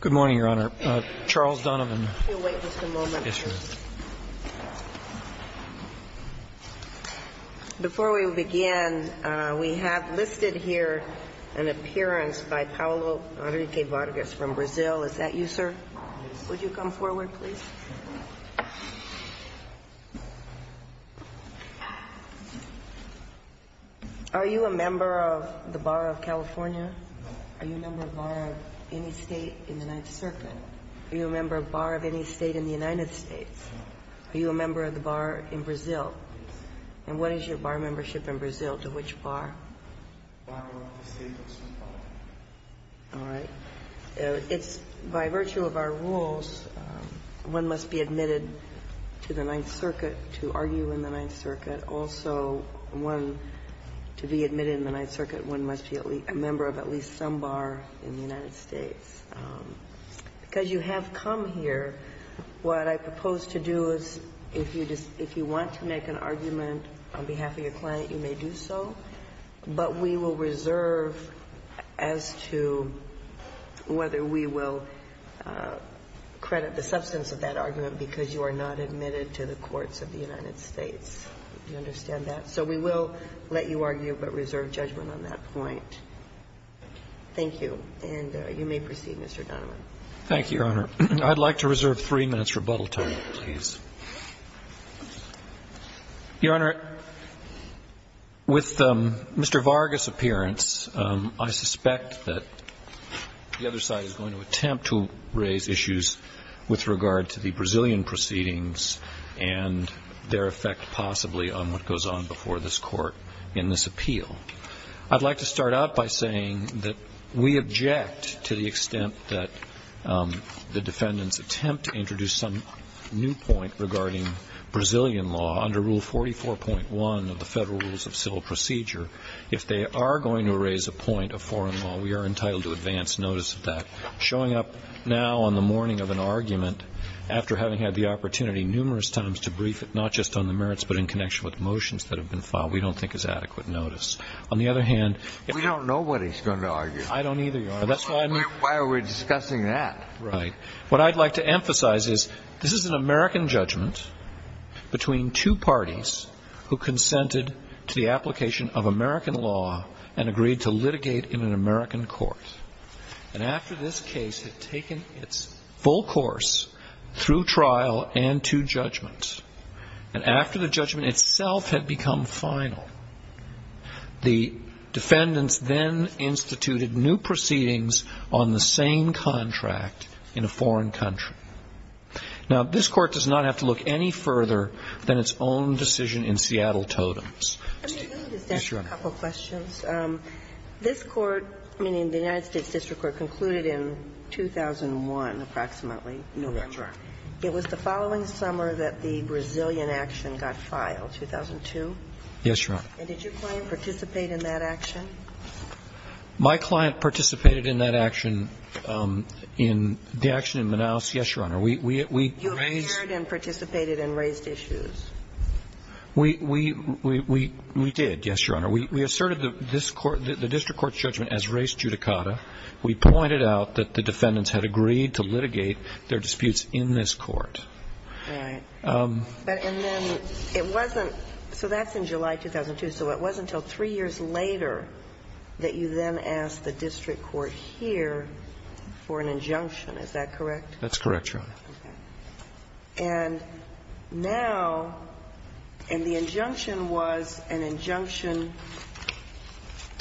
Good morning, Your Honor. Charles Donovan. We'll wait just a moment. Before we begin, we have listed here an appearance by Paulo Henrique Vargas from Brazil. Is that you, sir? Yes. Would you come forward, please? Are you a member of the Bar of California? No. Are you a member of any state in the Ninth Circuit? No. Are you a member of a bar of any state in the United States? No. Are you a member of the bar in Brazil? Yes. And what is your bar membership in Brazil? To which bar? Bar of the state of São Paulo. All right. It's by virtue of our rules, one must be admitted to the Ninth Circuit to argue in the Ninth Circuit. Also, one, to be admitted in the Ninth Circuit, one must be a member of at least some bar in the United States. Because you have come here, what I propose to do is if you want to make an argument on behalf of your client, you may do so, but we will reserve as to whether we will credit the substance of that argument because you are not admitted to the courts of the United States. Do you understand that? So we will let you argue, but reserve judgment on that point. Thank you. And you may proceed, Mr. Donovan. Thank you, Your Honor. I'd like to reserve three minutes' rebuttal time, please. Your Honor, with Mr. Vargas' appearance, I suspect that the other side is going to attempt to raise issues with regard to the Brazilian proceedings and their effect possibly on what goes on before this Court in this appeal. I'd like to start out by saying that we object to the extent that the defendant's attempt to introduce some new point regarding Brazilian law under Rule 44.1 of the Federal Rules of Civil Procedure, if they are going to raise a point of foreign law, we are entitled to advance notice of that. Showing up now on the morning of an argument, after having had the opportunity numerous times to brief it, not just on the merits, but in connection with motions that have been filed, we don't think is adequate notice. On the other hand ---- We don't know what he's going to argue. I don't either, Your Honor. Why are we discussing that? Right. What I'd like to emphasize is this is an American judgment between two parties who consented to the application of American law and agreed to litigate in an American court. And after this case had taken its full course through trial and two judgments, and after the judgment itself had become final, the defendants then instituted new proceedings on the same contract in a foreign country. Now, this Court does not have to look any further than its own decision in Seattle Totems. Yes, Your Honor. This Court, meaning the United States District Court, concluded in 2001, approximately. No, that's right. It was the following summer that the Brazilian action got filed, 2002? Yes, Your Honor. And did your client participate in that action? My client participated in that action in the action in Manaus, yes, Your Honor. We raised ---- You appeared and participated and raised issues. We did, yes, Your Honor. We asserted the district court's judgment as res judicata. We pointed out that the defendants had agreed to litigate their disputes in this court. Right. And then it wasn't ---- so that's in July 2002. So it wasn't until three years later that you then asked the district court here for an injunction. Is that correct? That's correct, Your Honor. Okay. And now the injunction was an injunction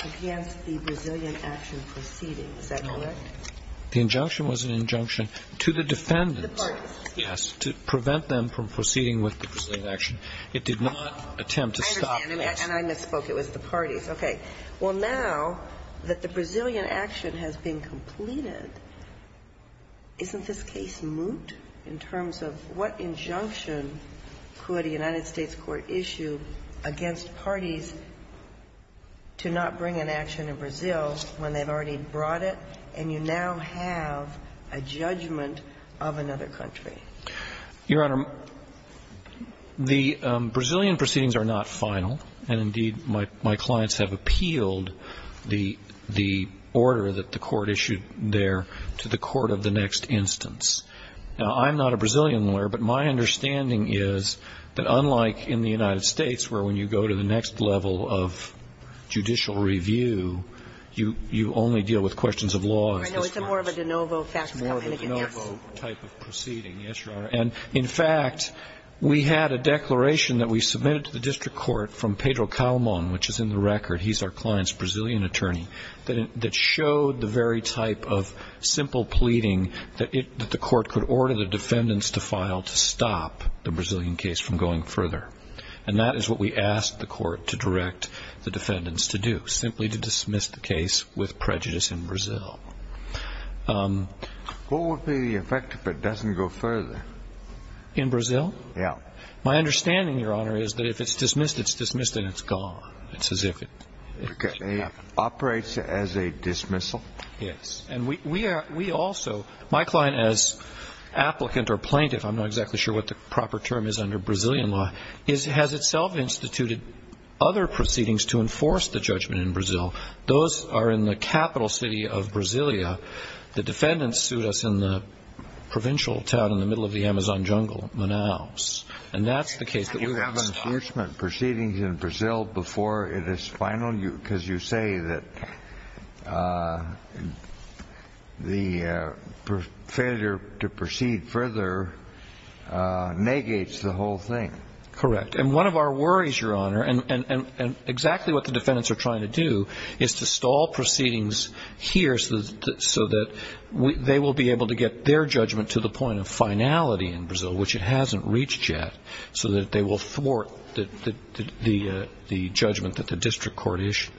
against the Brazilian action proceeding. Is that correct? No. The injunction was an injunction to the defendants. To the parties. Yes, to prevent them from proceeding with the Brazilian action. It did not attempt to stop this. And I misspoke. It was the parties. Okay. Well, now that the Brazilian action has been completed, isn't this case moot in terms of what injunction could a United States court issue against parties to not bring an action in Brazil when they've already brought it, and you now have a judgment of another country? Your Honor, the Brazilian proceedings are not final. And, indeed, my clients have appealed the order that the court issued there to the court of the next instance. Now, I'm not a Brazilian lawyer, but my understanding is that unlike in the United States where when you go to the next level of judicial review, you only deal with questions of law. I know it's more of a de novo type of proceeding. Yes, Your Honor. And, in fact, we had a declaration that we submitted to the district court from Pedro Calamon, which is in the record. He's our client's Brazilian attorney, that showed the very type of simple pleading that the court could order the defendants to file to stop the Brazilian case from going further. And that is what we asked the court to direct the defendants to do, simply to dismiss the case with prejudice in Brazil. What would be the effect if it doesn't go further? In Brazil? My understanding, Your Honor, is that if it's dismissed, it's dismissed and it's gone. It's as if it should happen. It operates as a dismissal? Yes. And we also, my client as applicant or plaintiff, I'm not exactly sure what the the judgment in Brazil. Those are in the capital city of Brasilia. The defendants sued us in the provincial town in the middle of the Amazon jungle, Manaus. And that's the case that we want to stop. And you have an impeachment proceeding in Brazil before it is final? Because you say that the failure to proceed further negates the whole thing. Correct. And one of our worries, Your Honor, and exactly what the defendants are trying to do is to stall proceedings here so that they will be able to get their judgment to the point of finality in Brazil, which it hasn't reached yet, so that they will thwart the judgment that the district court issued.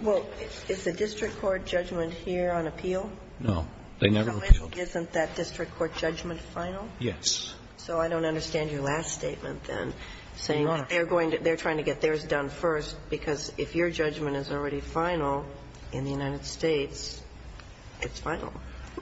Well, is the district court judgment here on appeal? No. They never appeal. So isn't that district court judgment final? Yes. So I don't understand your last statement then, saying they're trying to get theirs done first because if your judgment is already final in the United States, it's final.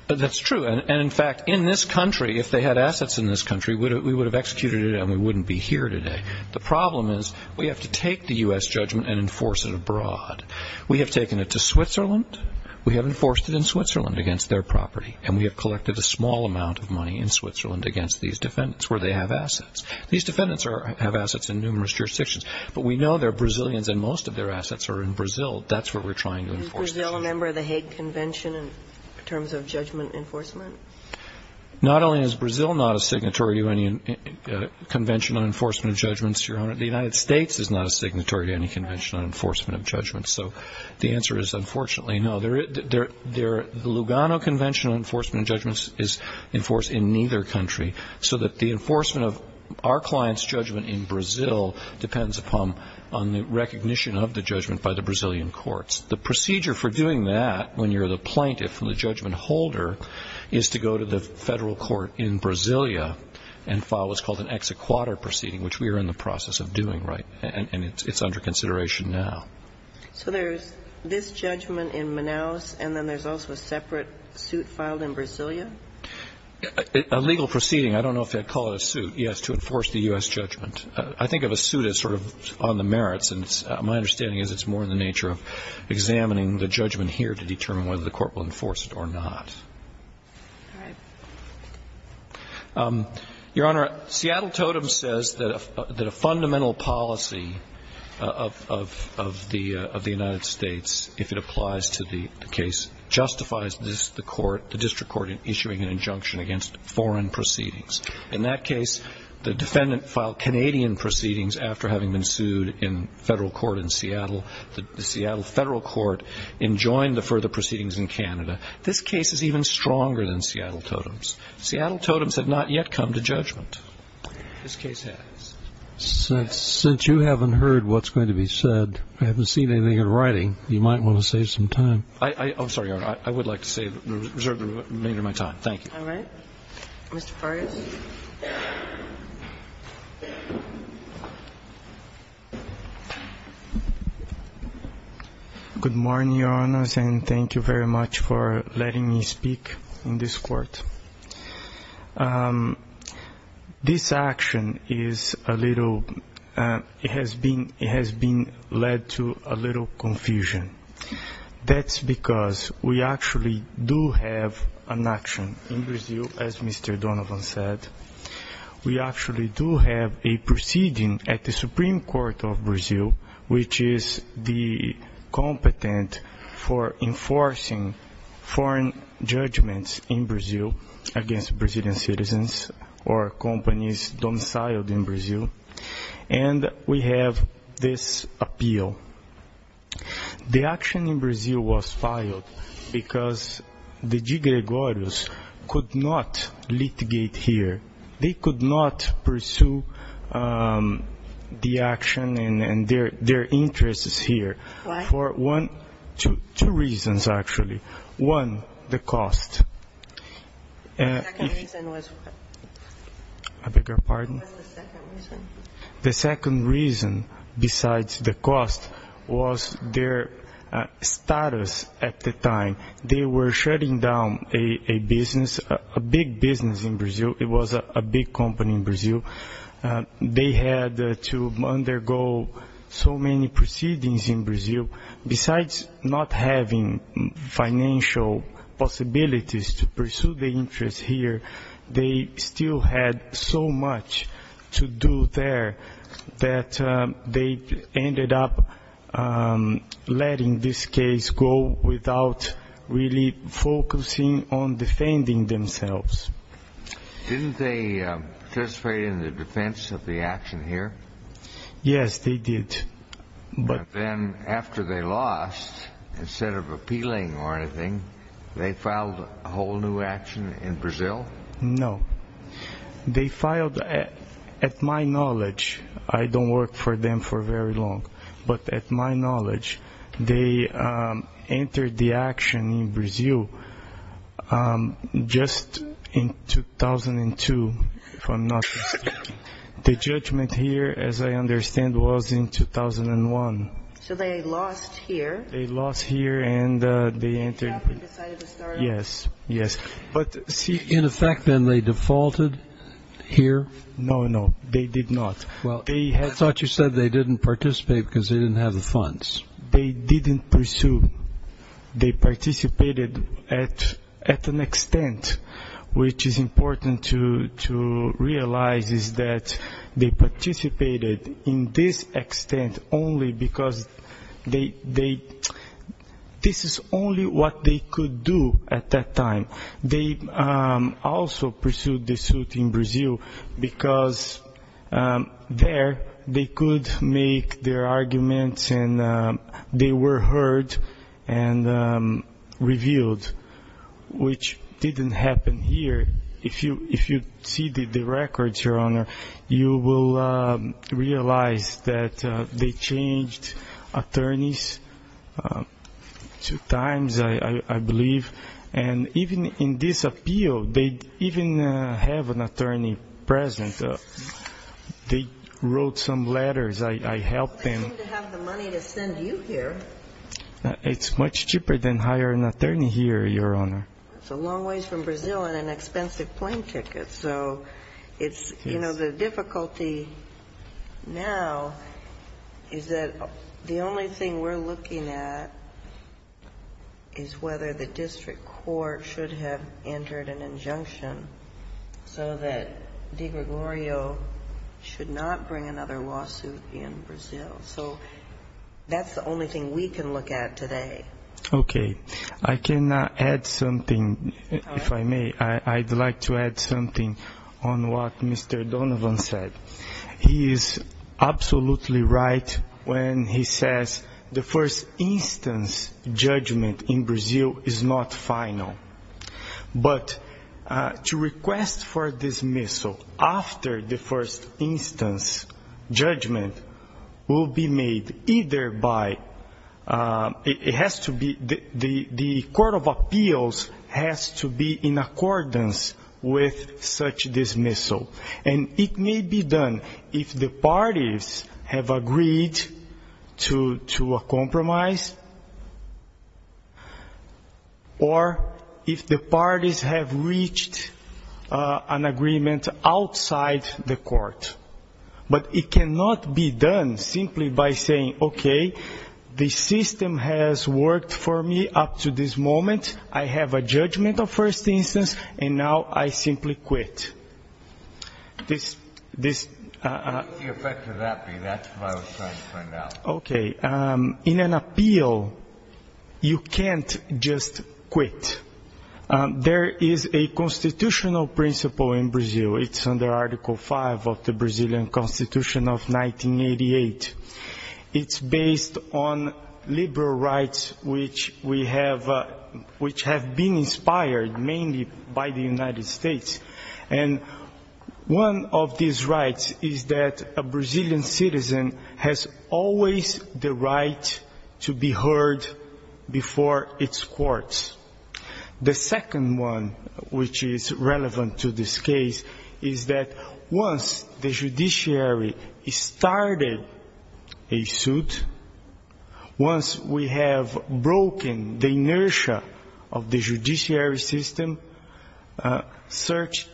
That's true. And, in fact, in this country, if they had assets in this country, we would have executed it and we wouldn't be here today. The problem is we have to take the U.S. judgment and enforce it abroad. We have taken it to Switzerland. We have enforced it in Switzerland against their property. And we have collected a small amount of money in Switzerland against these defendants where they have assets. These defendants have assets in numerous jurisdictions. But we know they're Brazilians and most of their assets are in Brazil. That's what we're trying to enforce. Is Brazil a member of the Hague Convention in terms of judgment enforcement? Not only is Brazil not a signatory to any convention on enforcement of judgments, Your Honor, the United States is not a signatory to any convention on enforcement of judgments. So the answer is, unfortunately, no. The Lugano Convention on Enforcement of Judgments is enforced in neither country so that the enforcement of our client's judgment in Brazil depends upon the recognition of the judgment by the Brazilian courts. The procedure for doing that, when you're the plaintiff and the judgment holder, is to go to the federal court in Brasilia and file what's called an ex-a-quadra proceeding, which we are in the process of doing, right? And it's under consideration now. So there's this judgment in Manaus, and then there's also a separate suit filed in Brasilia? A legal proceeding. I don't know if they'd call it a suit, yes, to enforce the U.S. judgment. I think of a suit as sort of on the merits, and my understanding is it's more in the nature of examining the judgment here to determine whether the court will enforce it or not. All right. Your Honor, Seattle Totem says that a fundamental policy of the United States, if it applies to the case, justifies the court, the district court, in issuing an injunction against foreign proceedings. In that case, the defendant filed Canadian proceedings after having been sued in federal court in Seattle. The Seattle federal court enjoined the further proceedings in Canada. This case is even stronger than Seattle Totems. Seattle Totems have not yet come to judgment. This case has. Since you haven't heard what's going to be said, I haven't seen anything in writing, you might want to save some time. I'm sorry, Your Honor. I would like to reserve the remainder of my time. Thank you. All right. Mr. Farias. Good morning, Your Honors, and thank you very much for letting me speak in this court. This action is a little, it has been led to a little confusion. That's because we actually do have an action in Brazil, as Mr. Donovan said, we actually do have a proceeding at the Supreme Court of Brazil, which is the competent for enforcing foreign judgments in Brazil against Brazilian citizens or companies domiciled in Brazil, and we have this appeal. The action in Brazil was filed because the de Gregorios could not litigate here they could not pursue the action and their interests here. Why? Two reasons, actually. One, the cost. The second reason besides the cost was their status at the time. They were shutting down a business, a big business in Brazil. It was a big company in Brazil. They had to undergo so many proceedings in Brazil. Besides not having financial possibilities to pursue the interest here, they still had so much to do there that they ended up letting this case go without any really focusing on defending themselves. Didn't they participate in the defense of the action here? Yes, they did. But then after they lost, instead of appealing or anything, they filed a whole new action in Brazil? No. They filed, at my knowledge, I don't work for them for very long, but at my knowledge, they entered the action in Brazil just in 2002, if I'm not mistaken. The judgment here, as I understand, was in 2001. So they lost here. Yes. In effect, then, they defaulted here? No, no, they did not. I thought you said they didn't participate because they didn't have the funds. They didn't pursue. They participated at an extent, which is important to realize, is that they participated in this extent only because they, this is only what they could do at that time. They also pursued the suit in Brazil because there they could make their arguments and they were heard and revealed, which didn't happen here. If you see the records, Your Honor, you will realize that they changed attorneys two times, I believe. And even in this appeal, they even have an attorney present. They wrote some letters. I helped them. They seem to have the money to send you here. It's much cheaper than hiring an attorney here, Your Honor. It's a long ways from Brazil and an expensive plane ticket. So it's, you know, the difficulty now is that the only thing we're looking at is whether the district court should have entered an injunction so that DeGregorio should not bring another lawsuit in Brazil. So that's the only thing we can look at today. Okay, I can add something, if I may. I'd like to add something on what Mr. Donovan said. He is absolutely right when he says the first instance judgment in Brazil is not final. But to request for dismissal after the first instance judgment will be made either by, it has to be done or it has to be, the court of appeals has to be in accordance with such dismissal. And it may be done if the parties have agreed to a compromise, or if the parties have reached an agreement outside the court. But it cannot be done simply by saying, okay, the system has worked for me up to this moment. I have a judgment of first instance, and now I simply quit. This... Okay, in an appeal, you can't just quit. There is a constitutional principle in Brazil. It's under Article 5 of the Brazilian Constitution of 1988. It's based on liberal rights which we have, which have been inspired mainly by the United States. And one of these rights is that a Brazilian citizen has always the right to be heard before its courts. The second one which is relevant to this case is that once the judiciary started a suit, once we have broken the inertia of the judiciary system, such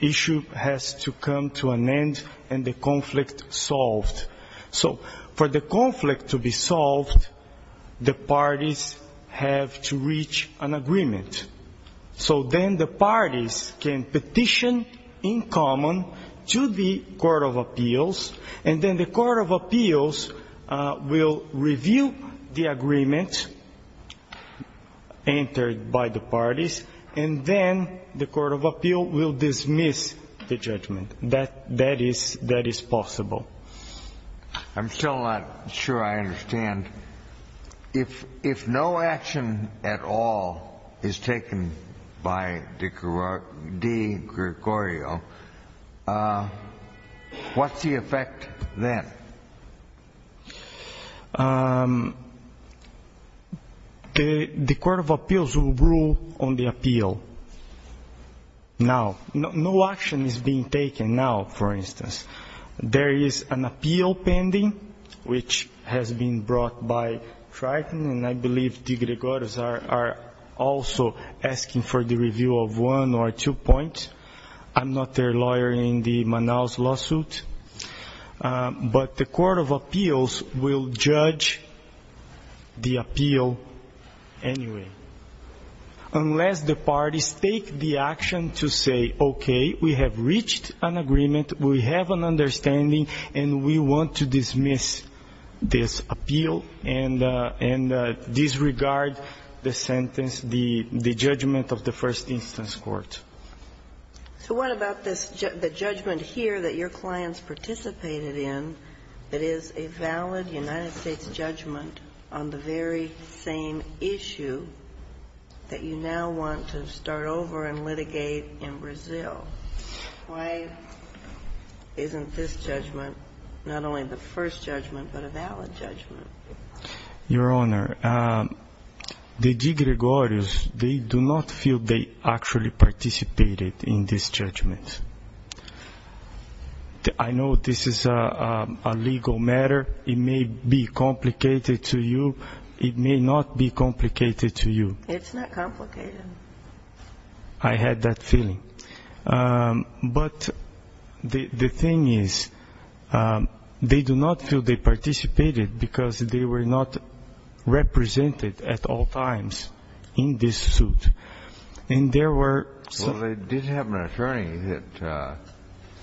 issue has to come to an end and the conflict solved. So for the conflict to be solved, the parties have to reach an agreement. So then the parties can petition in common to the court of appeals, and then the court of appeals will review the agreement entered by the parties, and then the court of appeals will dismiss the judgment. That is possible. I'm still not sure I understand. If no action at all is taken by de Gregorio, what's the effect then? The court of appeals will rule on the appeal. Now, no action is being taken now, for instance. There is an appeal pending which has been brought by Triton, and I believe de Gregorio are also asking for the review of one or two points. I'm not their lawyer in the Manaus lawsuit, but the court of appeals will judge the appeal anyway, unless the parties take the action to say, okay, we have reached an agreement, we have an understanding, and we want to dismiss this appeal and disregard the sentence, the judgment of the first instance court. So what about this, the judgment here that your clients participated in that is a valid United States judgment on the very same issue that you now want to start over and litigate in Brazil? Why isn't this judgment not only the first judgment, but a valid judgment? Your Honor, de Gregorio, they do not feel they actually participated in this judgment. I know this is a legal matter. It may be complicated to you. It may not be complicated to you. It's not complicated. I had that feeling. But the thing is, they do not feel they participated because they were not represented at all times in this suit. Well, they did have an attorney that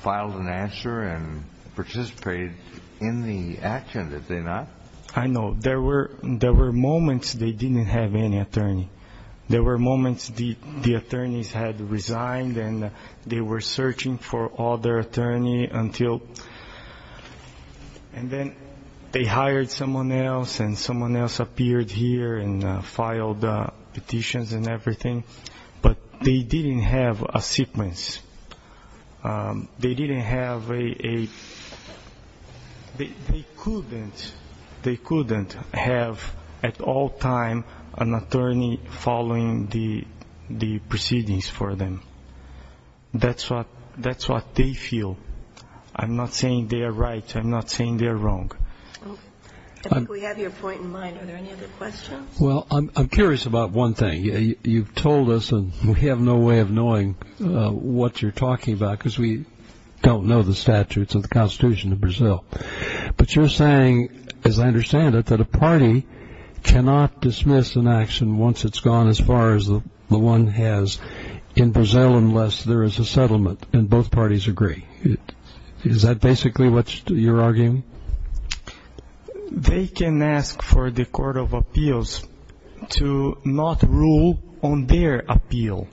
filed an answer and participated in the action, did they not? I know. There were moments they didn't have any attorney. There were moments the attorneys had resigned and they were searching for other attorney until they hired someone else, and someone else appeared here and filed petitions and everything. But they didn't have a sequence. They couldn't have at all times an attorney following the proceedings for them. That's what they feel. I'm not saying they are right. I'm not saying they are wrong. I think we have your point in mind. Are there any other questions? Well, I'm curious about one thing. You've told us, and we have no way of knowing what you're talking about because we don't know the statutes of the Constitution of Brazil. But you're saying, as I understand it, that a party cannot dismiss an action once it's gone as far as the one has in Brazil unless there is a settlement and both parties agree. Is that basically what you're arguing? They can ask for the Court of Appeals to not rule on their appeal,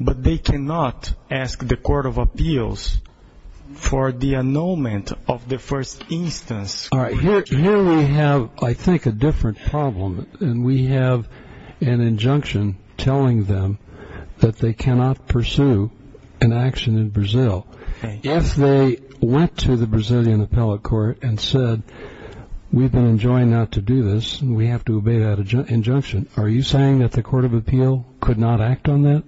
but they cannot ask the Court of Appeals for the annulment of the first instance. Here we have, I think, a different problem. We have an injunction telling them that they cannot pursue an action in Brazil. If they went to the Brazilian appellate court and said, we've been enjoined not to do this and we have to obey that injunction, are you saying that the Court of Appeals could not act on that?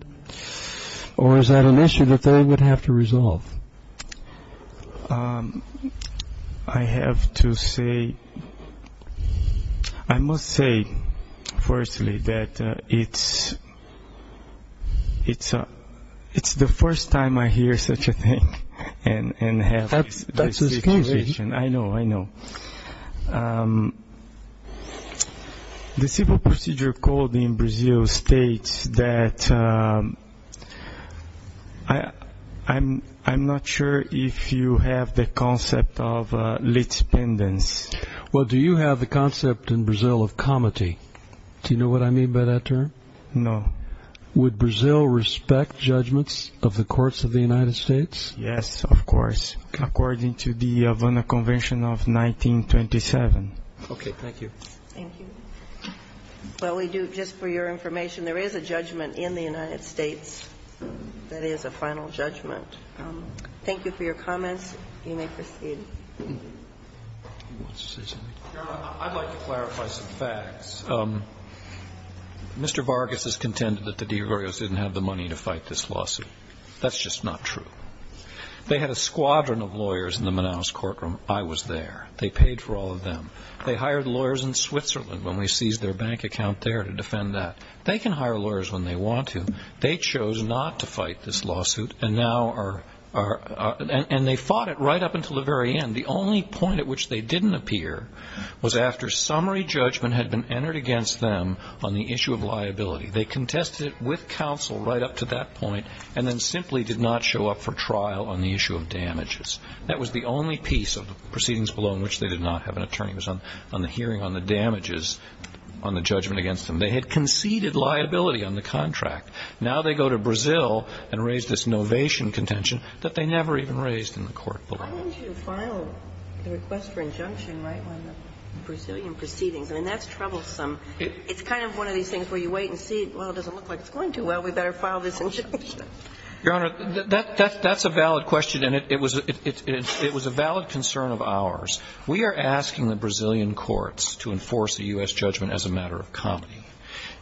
Or is that an issue that they would have to resolve? I have to say, I must say, firstly, that it's the first time I hear such a thing and have this situation. I know, I know. The Civil Procedure Code in Brazil states that, I'm not sure if you have the concept of lit pendants. Well, do you have the concept in Brazil of comity? Do you know what I mean by that term? No. Would Brazil respect judgments of the courts of the United States? Yes, of course. According to the Havana Convention of 1927. Okay. Thank you. Thank you. Well, we do, just for your information, there is a judgment in the United States that is a final judgment. Thank you for your comments. You may proceed. Your Honor, I'd like to clarify some facts. Mr. Vargas has contended that the de Agourios didn't have the money to fight this lawsuit. That's just not true. They had a squadron of lawyers in the Manaus courtroom. I was there. They paid for all of them. They hired lawyers in Switzerland when we seized their bank account there to defend that. They can hire lawyers when they want to. They chose not to fight this lawsuit, and they fought it right up until the very end. The only point at which they didn't appear was after summary judgment had been entered against them on the issue of liability. They contested it with counsel right up to that point, and then simply did not show up for trial on the issue of damages. That was the only piece of the proceedings below in which they did not have an attorney. It was on the hearing on the damages on the judgment against them. They had conceded liability on the contract. Now they go to Brazil and raise this novation contention that they never even raised in the court below. Why didn't you file the request for injunction right when the Brazilian proceedings? I mean, that's troublesome. It's kind of one of these things where you wait and see, well, it doesn't look like it's going too well. We better file this injunction. Your Honor, that's a valid question, and it was a valid concern of ours. We are asking the Brazilian courts to enforce the U.S. judgment as a matter of comedy.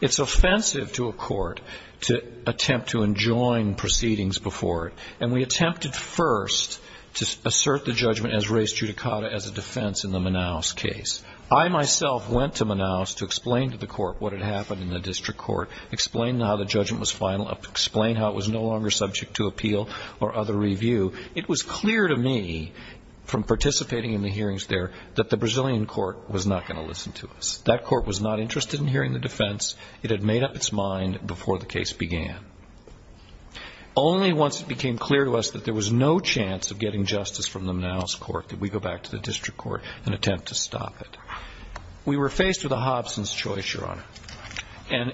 It's offensive to a court to attempt to enjoin proceedings before it, and we attempted first to assert the judgment as res judicata as a defense in the Manaus case. I myself went to Manaus to explain to the court what had happened in the district court, explain how the judgment was final, explain how it was no longer subject to appeal or other review. It was clear to me from participating in the hearings there that the Brazilian court was not going to listen to us. That court was not interested in hearing the defense. It had made up its mind before the case began. Only once it became clear to us that there was no chance of getting justice from the Manaus court did we go back to the district court and attempt to stop it. We were faced with a Hobson's choice, Your Honor. And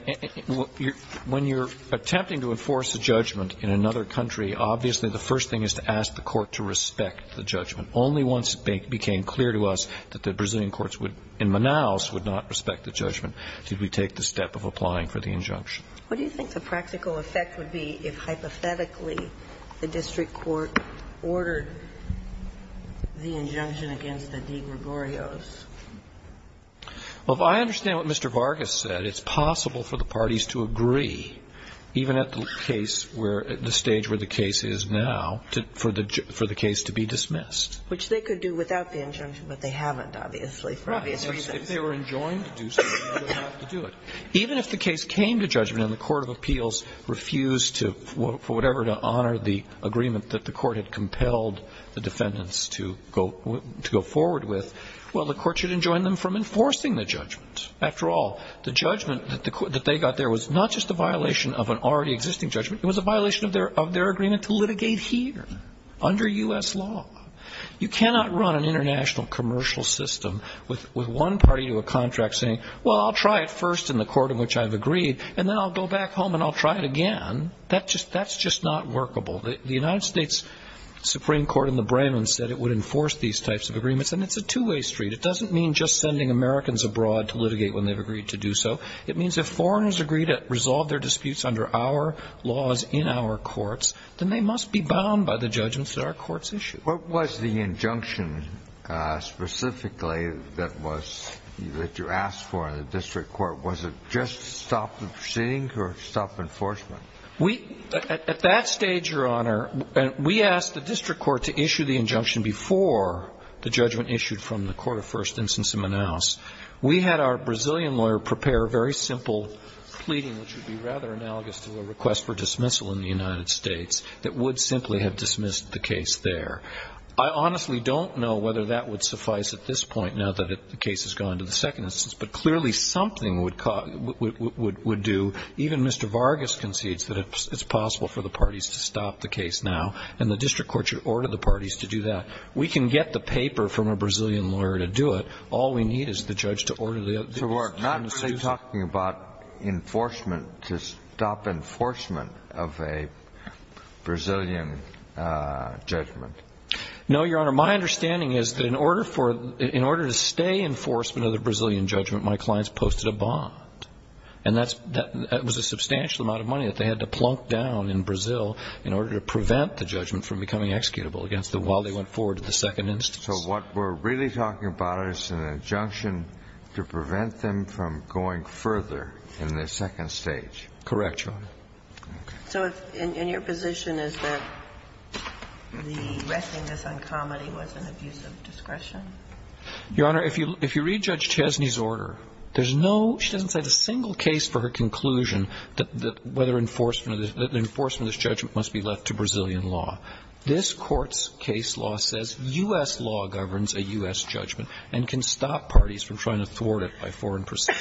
when you're attempting to enforce a judgment in another country, obviously the first thing is to ask the court to respect the judgment. Only once it became clear to us that the Brazilian courts in Manaus would not respect the judgment did we take the step of applying for the injunction. What do you think the practical effect would be if, hypothetically, the district court ordered the injunction against the De Gregorios? Well, if I understand what Mr. Vargas said, it's possible for the parties to agree, even at the case where the stage where the case is now, for the case to be dismissed. Which they could do without the injunction, but they haven't, obviously, for obvious reasons. Right. If they were enjoined to do so, they would have to do it. Even if the case came to judgment and the court of appeals refused to, for whatever, to honor the agreement that the court had compelled the defendants to go forward with, well, the court should enjoin them from enforcing the judgment. After all, the judgment that they got there was not just a violation of an already existing judgment. It was a violation of their agreement to litigate here, under U.S. law. You cannot run an international commercial system with one party to a contract saying, well, I'll try it first in the court in which I've agreed, and then I'll go back home and I'll try it again. That's just not workable. The United States Supreme Court in the Bremen said it would enforce these types of It's a two-way street. It doesn't mean just sending Americans abroad to litigate when they've agreed to do so. It means if foreigners agree to resolve their disputes under our laws in our courts, then they must be bound by the judgments that our courts issue. What was the injunction specifically that was that you asked for in the district court? Was it just stop the proceedings or stop enforcement? We at that stage, Your Honor, we asked the district court to issue the injunction before the judgment issued from the court of first instance in Manaus. We had our Brazilian lawyer prepare a very simple pleading, which would be rather analogous to a request for dismissal in the United States, that would simply have dismissed the case there. I honestly don't know whether that would suffice at this point now that the case has gone to the second instance, but clearly something would do. Even Mr. Vargas concedes that it's possible for the parties to stop the case now, and the district court should order the parties to do that. We can get the paper from a Brazilian lawyer to do it. All we need is the judge to order the other parties to do it. So we're not talking about enforcement to stop enforcement of a Brazilian judgment? No, Your Honor. My understanding is that in order to stay enforcement of the Brazilian judgment, my clients posted a bond. And that was a substantial amount of money that they had to plunk down in Brazil in order to prevent the judgment from becoming executable against them while they went forward to the second instance. So what we're really talking about is an injunction to prevent them from going further in the second stage. Correct, Your Honor. Okay. So your position is that the restlessness on comedy was an abuse of discretion? Your Honor, if you read Judge Chesney's order, there's no – she doesn't say a single case for her conclusion that whether enforcement of this judgment must be left to Brazilian law. This Court's case law says U.S. law governs a U.S. judgment and can stop parties from trying to thwart it by foreign procedures.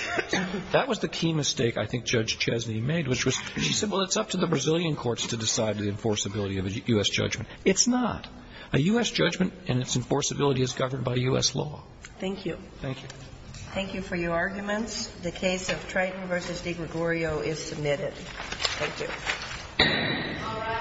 That was the key mistake I think Judge Chesney made, which was she said, well, it's up to the Brazilian courts to decide the enforceability of a U.S. judgment. It's not. A U.S. judgment and its enforceability is governed by U.S. law. Thank you. Thank you. Thank you for your arguments. The case of Triton v. DeGregorio is submitted. Thank you.